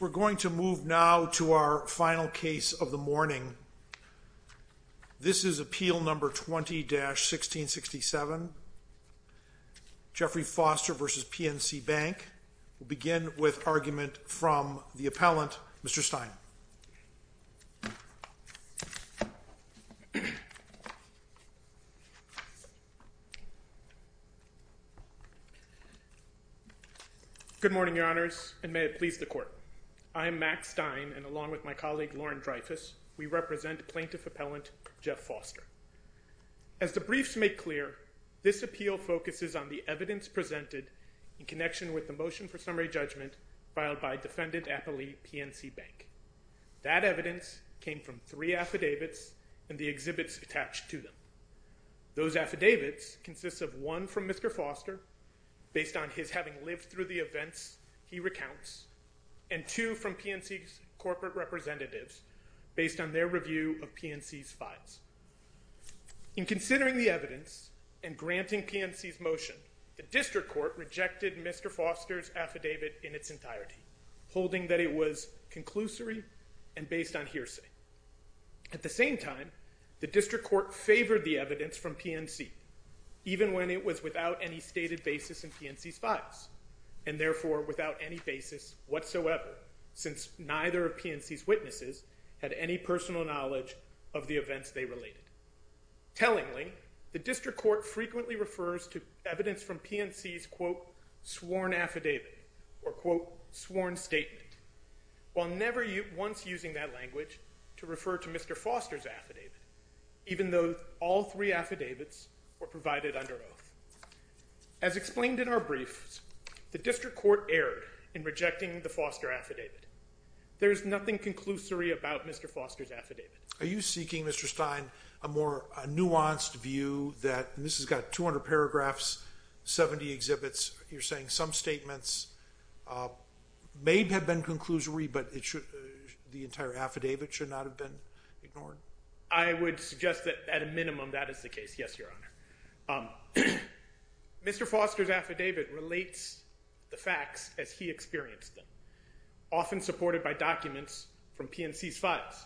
We're going to move now to our final case of the morning. This is Appeal No. 20-1667, Jeffrey Foster v. PNC Bank. We'll begin with argument from the appellant, Mr. Stein. Good morning, Your Honors, and may it please the Court. I am Max Stein, and along with my colleague Lauren Dreyfus, we represent Plaintiff Appellant Jeff Foster. As the briefs make clear, this appeal focuses on the evidence presented in connection with the motion for summary judgment filed by defendant appellee PNC Bank. That evidence came from three affidavits and the exhibits attached to them. Those affidavits consist of one from Mr. Foster, based on his having lived through the events he recounts, and two from PNC's corporate representatives, based on their review of PNC's files. In considering the evidence and granting PNC's motion, the District Court rejected Mr. Foster's affidavit in its entirety, holding that it was conclusory and based on hearsay. At the same time, the District Court favored the evidence from PNC, even when it was without any stated basis in PNC's files, and therefore without any basis whatsoever, since neither of PNC's witnesses had any personal knowledge of the events they related. Tellingly, the District Court frequently refers to evidence from PNC's, quote, sworn affidavit, or, quote, sworn statement, while never once using that language to refer to Mr. Foster's affidavit, even though all three affidavits were provided under oath. As explained in our briefs, the District Court erred in rejecting the Foster affidavit. There is nothing conclusory about Mr. Foster's affidavit. Are you seeking, Mr. Stein, a more nuanced view that, and this has got 200 paragraphs, 70 exhibits, you're saying some statements may have been conclusory, but the entire affidavit should not have been ignored? I would suggest that, at a minimum, that is the case, yes, Your Honor. Mr. Foster's affidavit relates the facts as he experienced them, often supported by documents from PNC's files.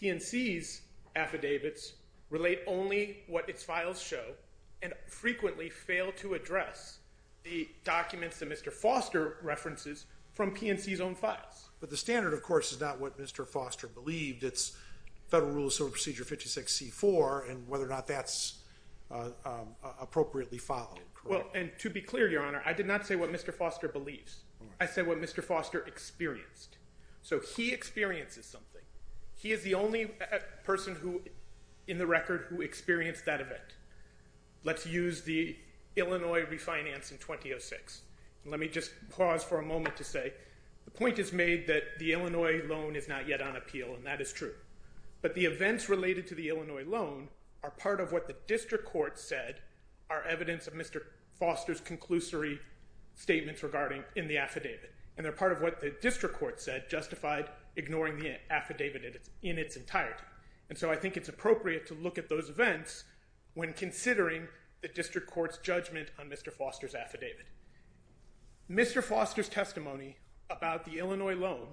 PNC's affidavits relate only what its files show and frequently fail to address the documents that Mr. Foster references from PNC's own files. But the standard, of course, is not what Mr. Foster believed. It's Federal Rule of Civil Procedure 56C4 and whether or not that's appropriately followed. Well, and to be clear, Your Honor, I did not say what Mr. Foster believes. I said what Mr. Foster experienced. So he experiences something. He is the only person who, in the record, who experienced that event. Let's use the Illinois refinance in 2006. Let me just pause for a moment to say the point is made that the Illinois loan is not yet on appeal, and that is true. But the events related to the Illinois loan are part of what the district court said are evidence of Mr. Foster's conclusory statements regarding in the affidavit. And they're part of what the district court said justified ignoring the affidavit in its entirety. And so I think it's appropriate to look at those events when considering the district court's judgment on Mr. Foster's affidavit. Mr. Foster's testimony about the Illinois loan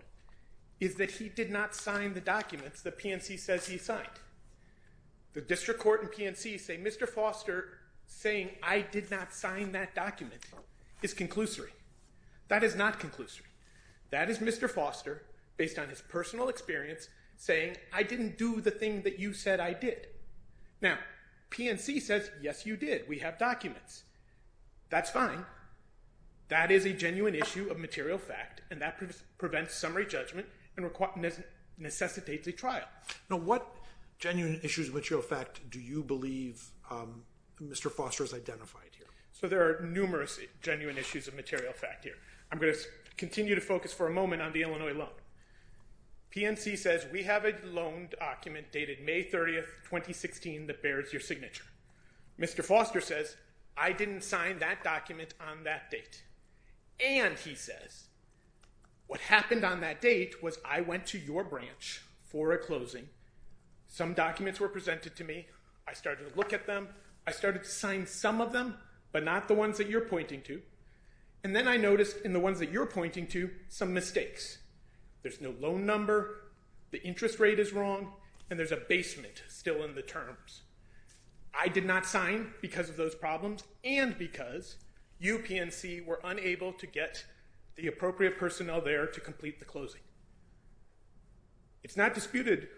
is that he did not sign the documents that PNC says he signed. The district court and PNC say Mr. Foster saying I did not sign that document is conclusory. That is not conclusory. That is Mr. Foster, based on his personal experience, saying I didn't do the thing that you said I did. Now, PNC says yes, you did. We have documents. That's fine. That is a genuine issue of material fact, and that prevents summary judgment and necessitates a trial. Now, what genuine issues of material fact do you believe Mr. Foster has identified here? So there are numerous genuine issues of material fact here. I'm going to continue to focus for a moment on the Illinois loan. PNC says we have a loan document dated May 30, 2016 that bears your signature. Mr. Foster says I didn't sign that document on that date. And he says what happened on that date was I went to your branch for a closing. Some documents were presented to me. I started to look at them. I started to sign some of them, but not the ones that you're pointing to. And then I noticed in the ones that you're pointing to some mistakes. There's no loan number, the interest rate is wrong, and there's a basement still in the terms. I did not sign because of those problems and because you, PNC, were unable to get the appropriate personnel there to complete the closing. It's not disputed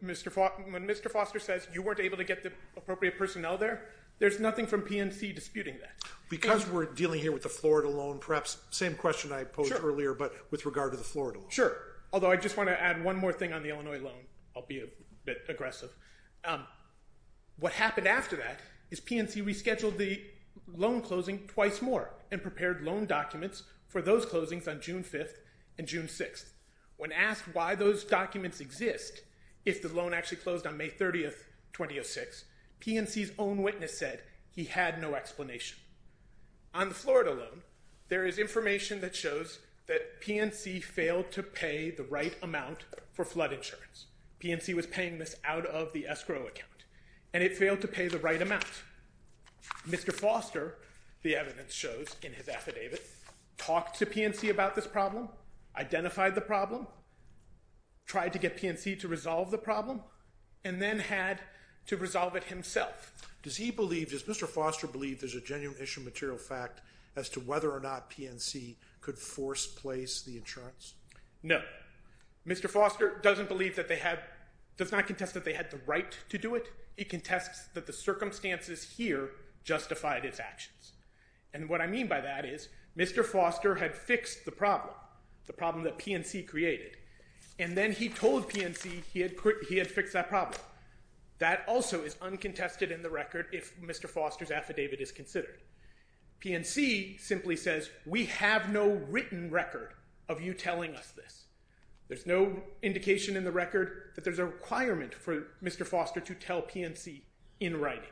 when Mr. Foster says you weren't able to get the appropriate personnel there. There's nothing from PNC disputing that. Because we're dealing here with the Florida loan, perhaps same question I posed earlier, but with regard to the Florida loan. Sure, although I just want to add one more thing on the Illinois loan. I'll be a bit aggressive. What happened after that is PNC rescheduled the loan closing twice more and prepared loan documents for those closings on June 5th and June 6th. When asked why those documents exist, if the loan actually closed on May 30th, 2006, PNC's own witness said he had no explanation. On the Florida loan, there is information that shows that PNC failed to pay the right amount for flood insurance. PNC was paying this out of the escrow account, and it failed to pay the right amount. Mr. Foster, the evidence shows in his affidavit, talked to PNC about this problem, identified the problem, tried to get PNC to resolve the problem, and then had to resolve it himself. Does he believe, does Mr. Foster believe there's a genuine issue of material fact as to whether or not PNC could force place the insurance? No. Mr. Foster doesn't believe that they had, does not contest that they had the right to do it. He contests that the circumstances here justified its actions. And what I mean by that is Mr. Foster had fixed the problem, the problem that PNC created, and then he told PNC he had fixed that problem. That also is uncontested in the record if Mr. Foster's affidavit is considered. PNC simply says, we have no written record of you telling us this. There's no indication in the record that there's a requirement for Mr. Foster to tell PNC in writing.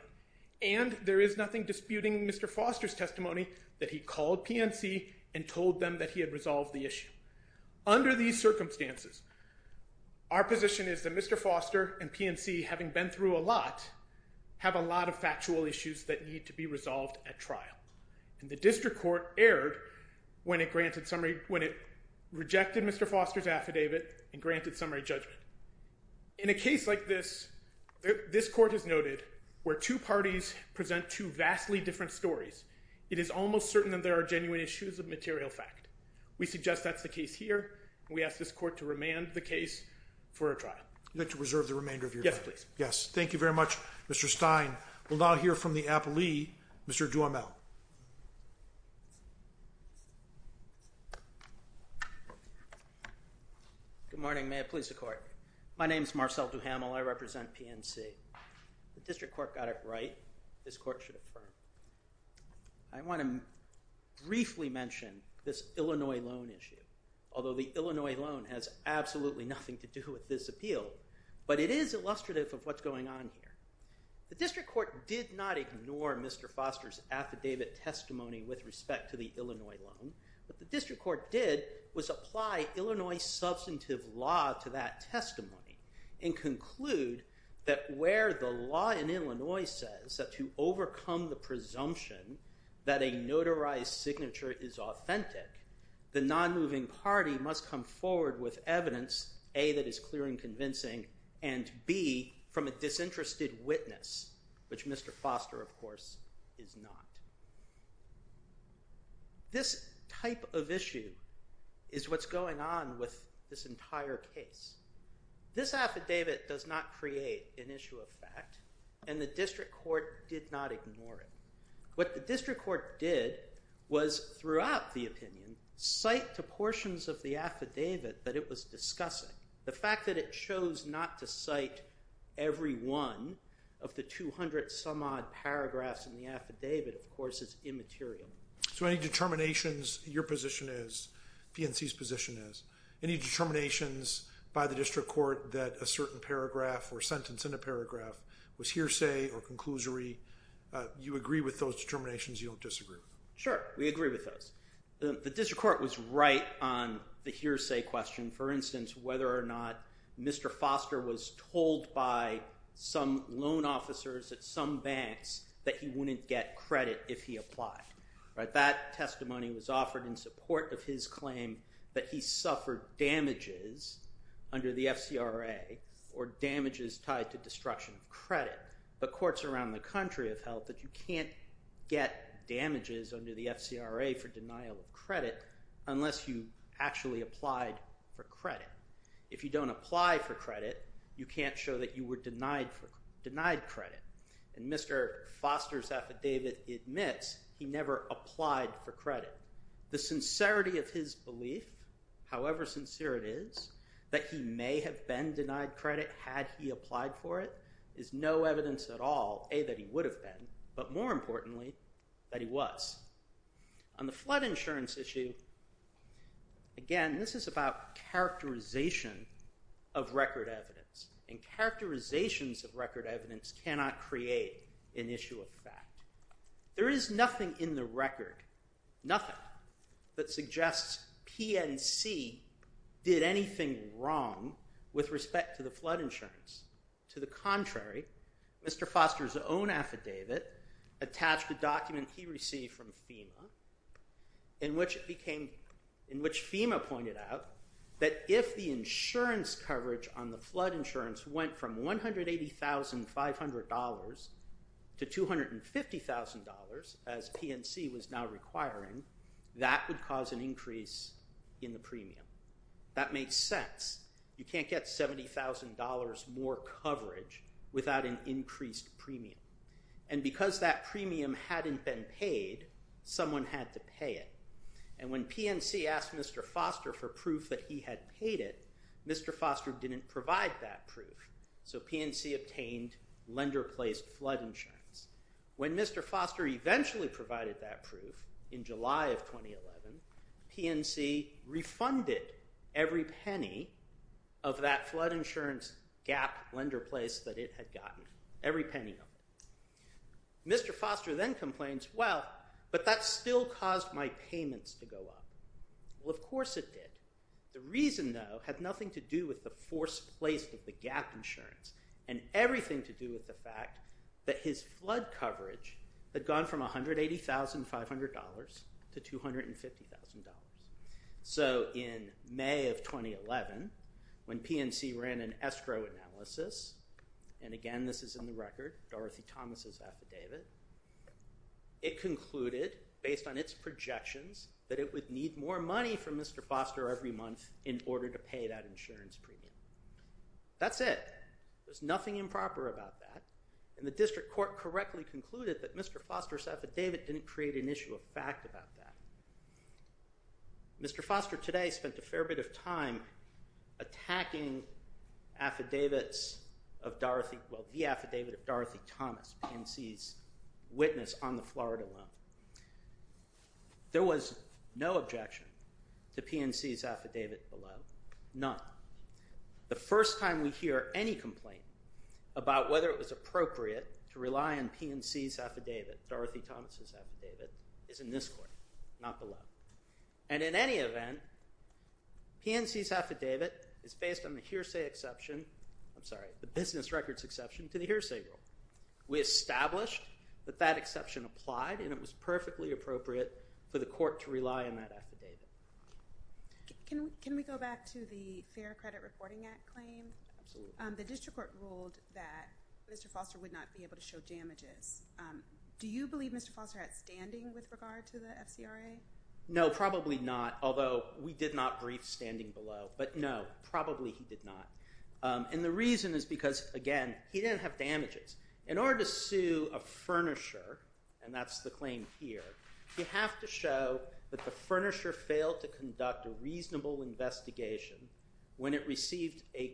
And there is nothing disputing Mr. Foster's testimony that he called PNC and told them that he had resolved the issue. Under these circumstances, our position is that Mr. Foster and PNC, having been through a lot, have a lot of factual issues that need to be resolved at trial. And the district court erred when it granted summary, when it rejected Mr. Foster's affidavit and granted summary judgment. In a case like this, this court has noted where two parties present two vastly different stories, it is almost certain that there are genuine issues of material fact. We suggest that's the case here, and we ask this court to remand the case for a trial. You'd like to reserve the remainder of your time? Yes, please. Yes. Thank you very much, Mr. Stein. We'll now hear from the appellee, Mr. Duhamel. Good morning. May it please the court. My name is Marcel Duhamel. I represent PNC. The district court got it right. This court should affirm. I want to briefly mention this Illinois loan issue. Although the Illinois loan has absolutely nothing to do with this appeal, but it is illustrative of what's going on here. The district court did not ignore Mr. Foster's affidavit testimony with respect to the Illinois loan. What the district court did was apply Illinois substantive law to that testimony and conclude that where the law in Illinois says that to overcome the presumption that a notarized signature is authentic, the nonmoving party must come forward with evidence, A, that is clear and convincing, and B, from a disinterested witness, which Mr. Foster, of course, is not. This type of issue is what's going on with this entire case. This affidavit does not create an issue of fact, and the district court did not ignore it. What the district court did was, throughout the opinion, cite to portions of the affidavit that it was discussing. The fact that it chose not to cite every one of the 200-some-odd paragraphs in the affidavit, of course, is immaterial. So any determinations your position is, PNC's position is, any determinations by the district court that a certain paragraph or sentence in a paragraph was hearsay or conclusory, you agree with those determinations, you don't disagree with them? Sure, we agree with those. The district court was right on the hearsay question, for instance, whether or not Mr. Foster was told by some loan officers at some banks that he wouldn't get credit if he applied. That testimony was offered in support of his claim that he suffered damages under the FCRA or damages tied to destruction of credit. But courts around the country have held that you can't get damages under the FCRA for denial of credit unless you actually applied for credit. If you don't apply for credit, you can't show that you were denied credit. And Mr. Foster's affidavit admits he never applied for credit. The sincerity of his belief, however sincere it is, that he may have been denied credit had he applied for it, is no evidence at all, A, that he would have been, but more importantly, that he was. On the flood insurance issue, again, this is about characterization of record evidence. And characterizations of record evidence cannot create an issue of fact. There is nothing in the record, nothing, that suggests PNC did anything wrong with respect to the flood insurance. To the contrary, Mr. Foster's own affidavit attached a document he received from FEMA in which FEMA pointed out that if the insurance coverage on the flood insurance went from $180,500 to $250,000, as PNC was now requiring, that would cause an increase in the premium. That makes sense. You can't get $70,000 more coverage without an increased premium. And because that premium hadn't been paid, someone had to pay it. And when PNC asked Mr. Foster for proof that he had paid it, Mr. Foster didn't provide that proof. So PNC obtained lender-placed flood insurance. When Mr. Foster eventually provided that proof in July of 2011, PNC refunded every penny of that flood insurance gap lender place that it had gotten, every penny of it. Mr. Foster then complains, well, but that still caused my payments to go up. Well, of course it did. The reason, though, had nothing to do with the forced place of the gap insurance and everything to do with the fact that his flood coverage had gone from $180,500 to $250,000. So in May of 2011, when PNC ran an escrow analysis, and again, this is in the record, Dorothy Thomas' affidavit, it concluded, based on its projections, that it would need more money from Mr. Foster every month in order to pay that insurance premium. That's it. There's nothing improper about that. And the district court correctly concluded that Mr. Foster's affidavit didn't create an issue of fact about that. Mr. Foster today spent a fair bit of time attacking affidavits of Dorothy – well, the affidavit of Dorothy Thomas, PNC's witness on the Florida loan. There was no objection to PNC's affidavit below, none. The first time we hear any complaint about whether it was appropriate to rely on PNC's affidavit, Dorothy Thomas' affidavit, is in this court, not below. And in any event, PNC's affidavit is based on the business records exception to the hearsay rule. We established that that exception applied, and it was perfectly appropriate for the court to rely on that affidavit. Can we go back to the Fair Credit Reporting Act claim? Absolutely. The district court ruled that Mr. Foster would not be able to show damages. Do you believe Mr. Foster had standing with regard to the FCRA? No, probably not, although we did not brief standing below. But no, probably he did not. And the reason is because, again, he didn't have damages. In order to sue a furnisher, and that's the claim here, you have to show that the furnisher failed to conduct a reasonable investigation when it received a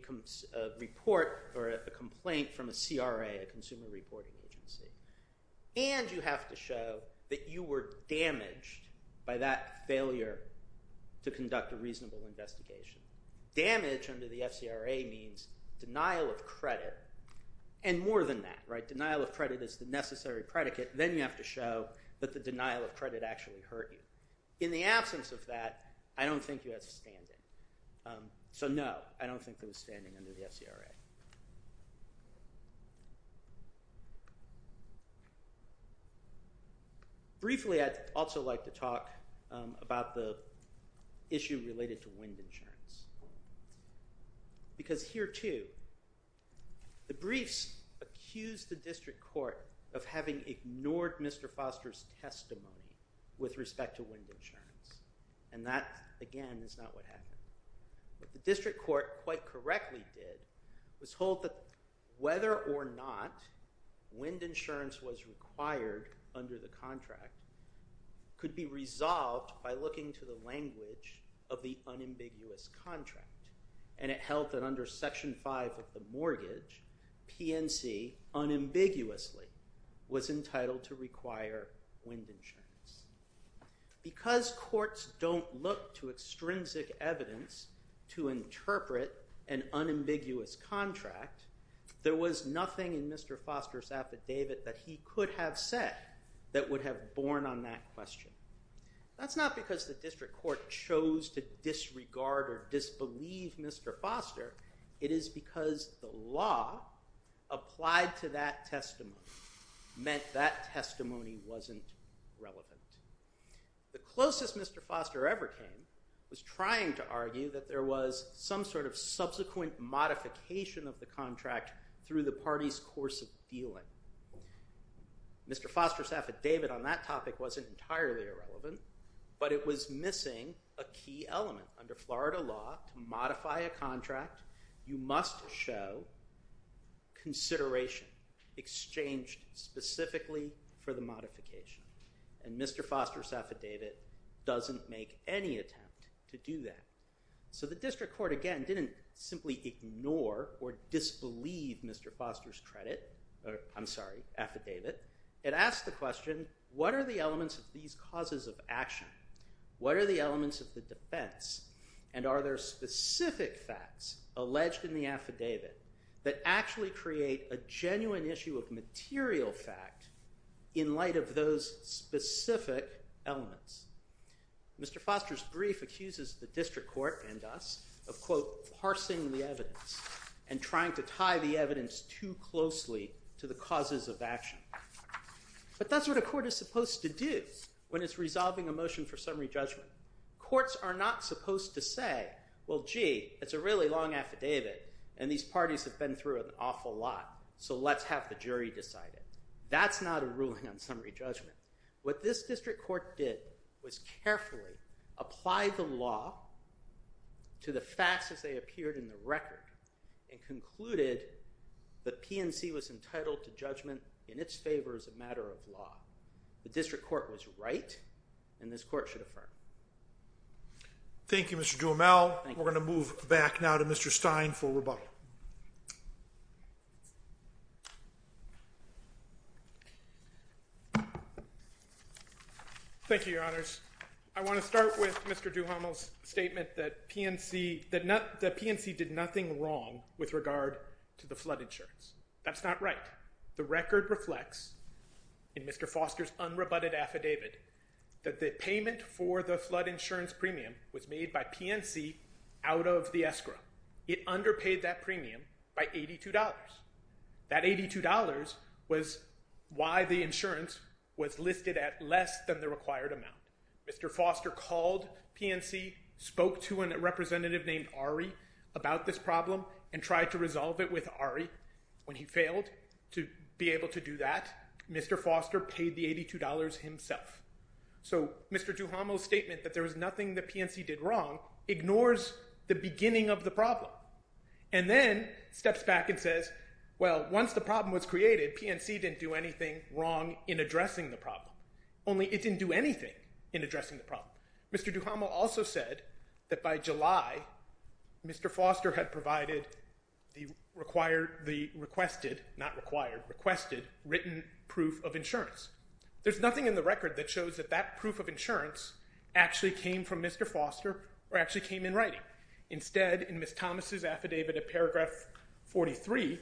report or a complaint from a CRA, a consumer reporting agency. And you have to show that you were damaged by that failure to conduct a reasonable investigation. Damage under the FCRA means denial of credit, and more than that. Denial of credit is the necessary predicate. Then you have to show that the denial of credit actually hurt you. In the absence of that, I don't think he has standing. So no, I don't think there was standing under the FCRA. Briefly, I'd also like to talk about the issue related to wind insurance. Because here, too, the briefs accused the district court of having ignored Mr. Foster's testimony with respect to wind insurance. And that, again, is not what happened. What the district court quite correctly did was hold that whether or not wind insurance was required under the contract could be resolved by looking to the language of the unambiguous contract. And it held that under Section 5 of the mortgage, PNC unambiguously was entitled to require wind insurance. Because courts don't look to extrinsic evidence to interpret an unambiguous contract, there was nothing in Mr. Foster's affidavit that he could have said that would have borne on that question. That's not because the district court chose to disregard or disbelieve Mr. Foster. It is because the law applied to that testimony meant that testimony wasn't relevant. The closest Mr. Foster ever came was trying to argue that there was some sort of subsequent modification of the contract through the party's course of dealing. Mr. Foster's affidavit on that topic wasn't entirely irrelevant, but it was missing a key element. Under Florida law, to modify a contract, you must show consideration exchanged specifically for the modification. And Mr. Foster's affidavit doesn't make any attempt to do that. So the district court, again, didn't simply ignore or disbelieve Mr. Foster's credit. I'm sorry, affidavit. It asked the question, what are the elements of these causes of action? What are the elements of the defense? And are there specific facts alleged in the affidavit that actually create a genuine issue of material fact in light of those specific elements? Mr. Foster's brief accuses the district court and us of, quote, parsing the evidence and trying to tie the evidence too closely to the causes of action. But that's what a court is supposed to do when it's resolving a motion for summary judgment. Courts are not supposed to say, well, gee, it's a really long affidavit, and these parties have been through an awful lot, so let's have the jury decide it. That's not a ruling on summary judgment. What this district court did was carefully apply the law to the facts as they appeared in the record and concluded that PNC was entitled to judgment in its favor as a matter of law. The district court was right, and this court should affirm. Thank you, Mr. Duhamel. We're going to move back now to Mr. Stein for rebuttal. Thank you, Your Honors. I want to start with Mr. Duhamel's statement that PNC did nothing wrong with regard to the flood insurance. That's not right. The record reflects in Mr. Foster's unrebutted affidavit that the payment for the flood insurance premium was made by PNC out of the escrow. It underpaid that premium by $82. That $82 was why the insurance was listed at less than the required amount. Mr. Foster called PNC, spoke to a representative named Ari about this problem, and tried to resolve it with Ari. When he failed to be able to do that, Mr. Foster paid the $82 himself. So Mr. Duhamel's statement that there was nothing that PNC did wrong ignores the beginning of the problem. And then steps back and says, well, once the problem was created, PNC didn't do anything wrong in addressing the problem. Only, it didn't do anything in addressing the problem. Mr. Duhamel also said that by July, Mr. Foster had provided the requested, not required, requested written proof of insurance. There's nothing in the record that shows that that proof of insurance actually came from Mr. Foster or actually came in writing. Instead, in Ms. Thomas' affidavit at paragraph 43,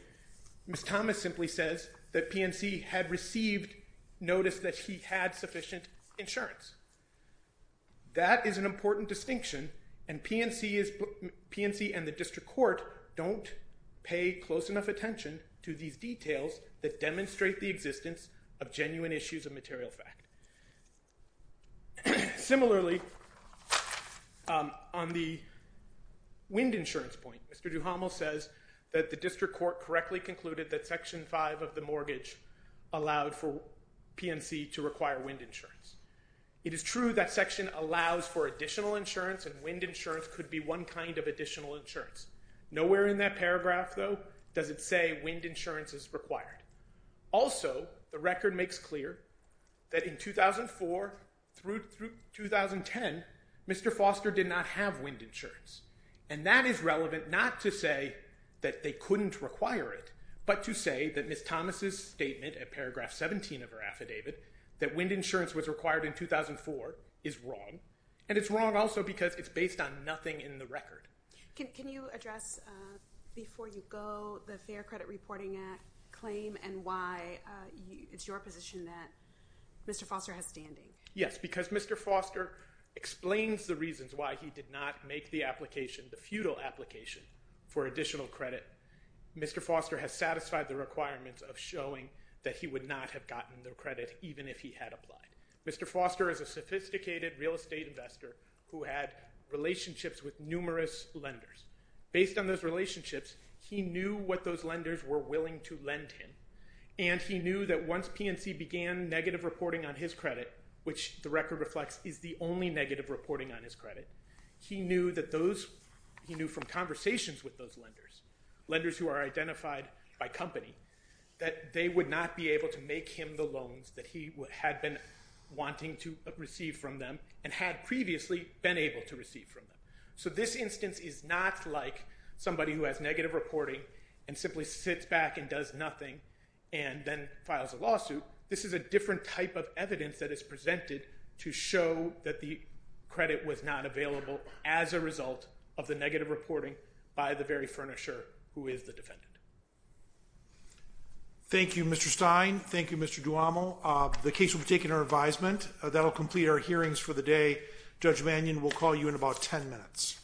Ms. Thomas simply says that PNC had received notice that he had sufficient insurance. That is an important distinction, and PNC and the district court don't pay close enough attention to these details that demonstrate the existence of genuine issues of material fact. Similarly, on the wind insurance point, Mr. Duhamel says that the district court correctly concluded that section 5 of the mortgage allowed for PNC to require wind insurance. It is true that section allows for additional insurance, and wind insurance could be one kind of additional insurance. Nowhere in that paragraph, though, does it say wind insurance is required. Also, the record makes clear that in 2004 through 2010, Mr. Foster did not have wind insurance, and that is relevant not to say that they couldn't require it, but to say that Ms. Thomas' statement at paragraph 17 of her affidavit that wind insurance was required in 2004 is wrong, and it's wrong also because it's based on nothing in the record. Can you address before you go the Fair Credit Reporting Act claim and why it's your position that Mr. Foster has standing? Yes, because Mr. Foster explains the reasons why he did not make the application, the futile application, for additional credit. Mr. Foster has satisfied the requirements of showing that he would not have gotten the credit even if he had applied. Mr. Foster is a sophisticated real estate investor who had relationships with numerous lenders. Based on those relationships, he knew what those lenders were willing to lend him, and he knew that once PNC began negative reporting on his credit, which the record reflects is the only negative reporting on his credit, he knew from conversations with those lenders, lenders who are identified by company, that they would not be able to make him the loans that he had been wanting to receive from them and had previously been able to receive from them. So this instance is not like somebody who has negative reporting and simply sits back and does nothing and then files a lawsuit. This is a different type of evidence that is presented to show that the credit was not available as a result of the negative reporting by the very furnisher who is the defendant. Thank you, Mr. Stein. Thank you, Mr. Duamo. The case will be taken under advisement. That will complete our hearings for the day. Judge Mannion will call you in about 10 minutes.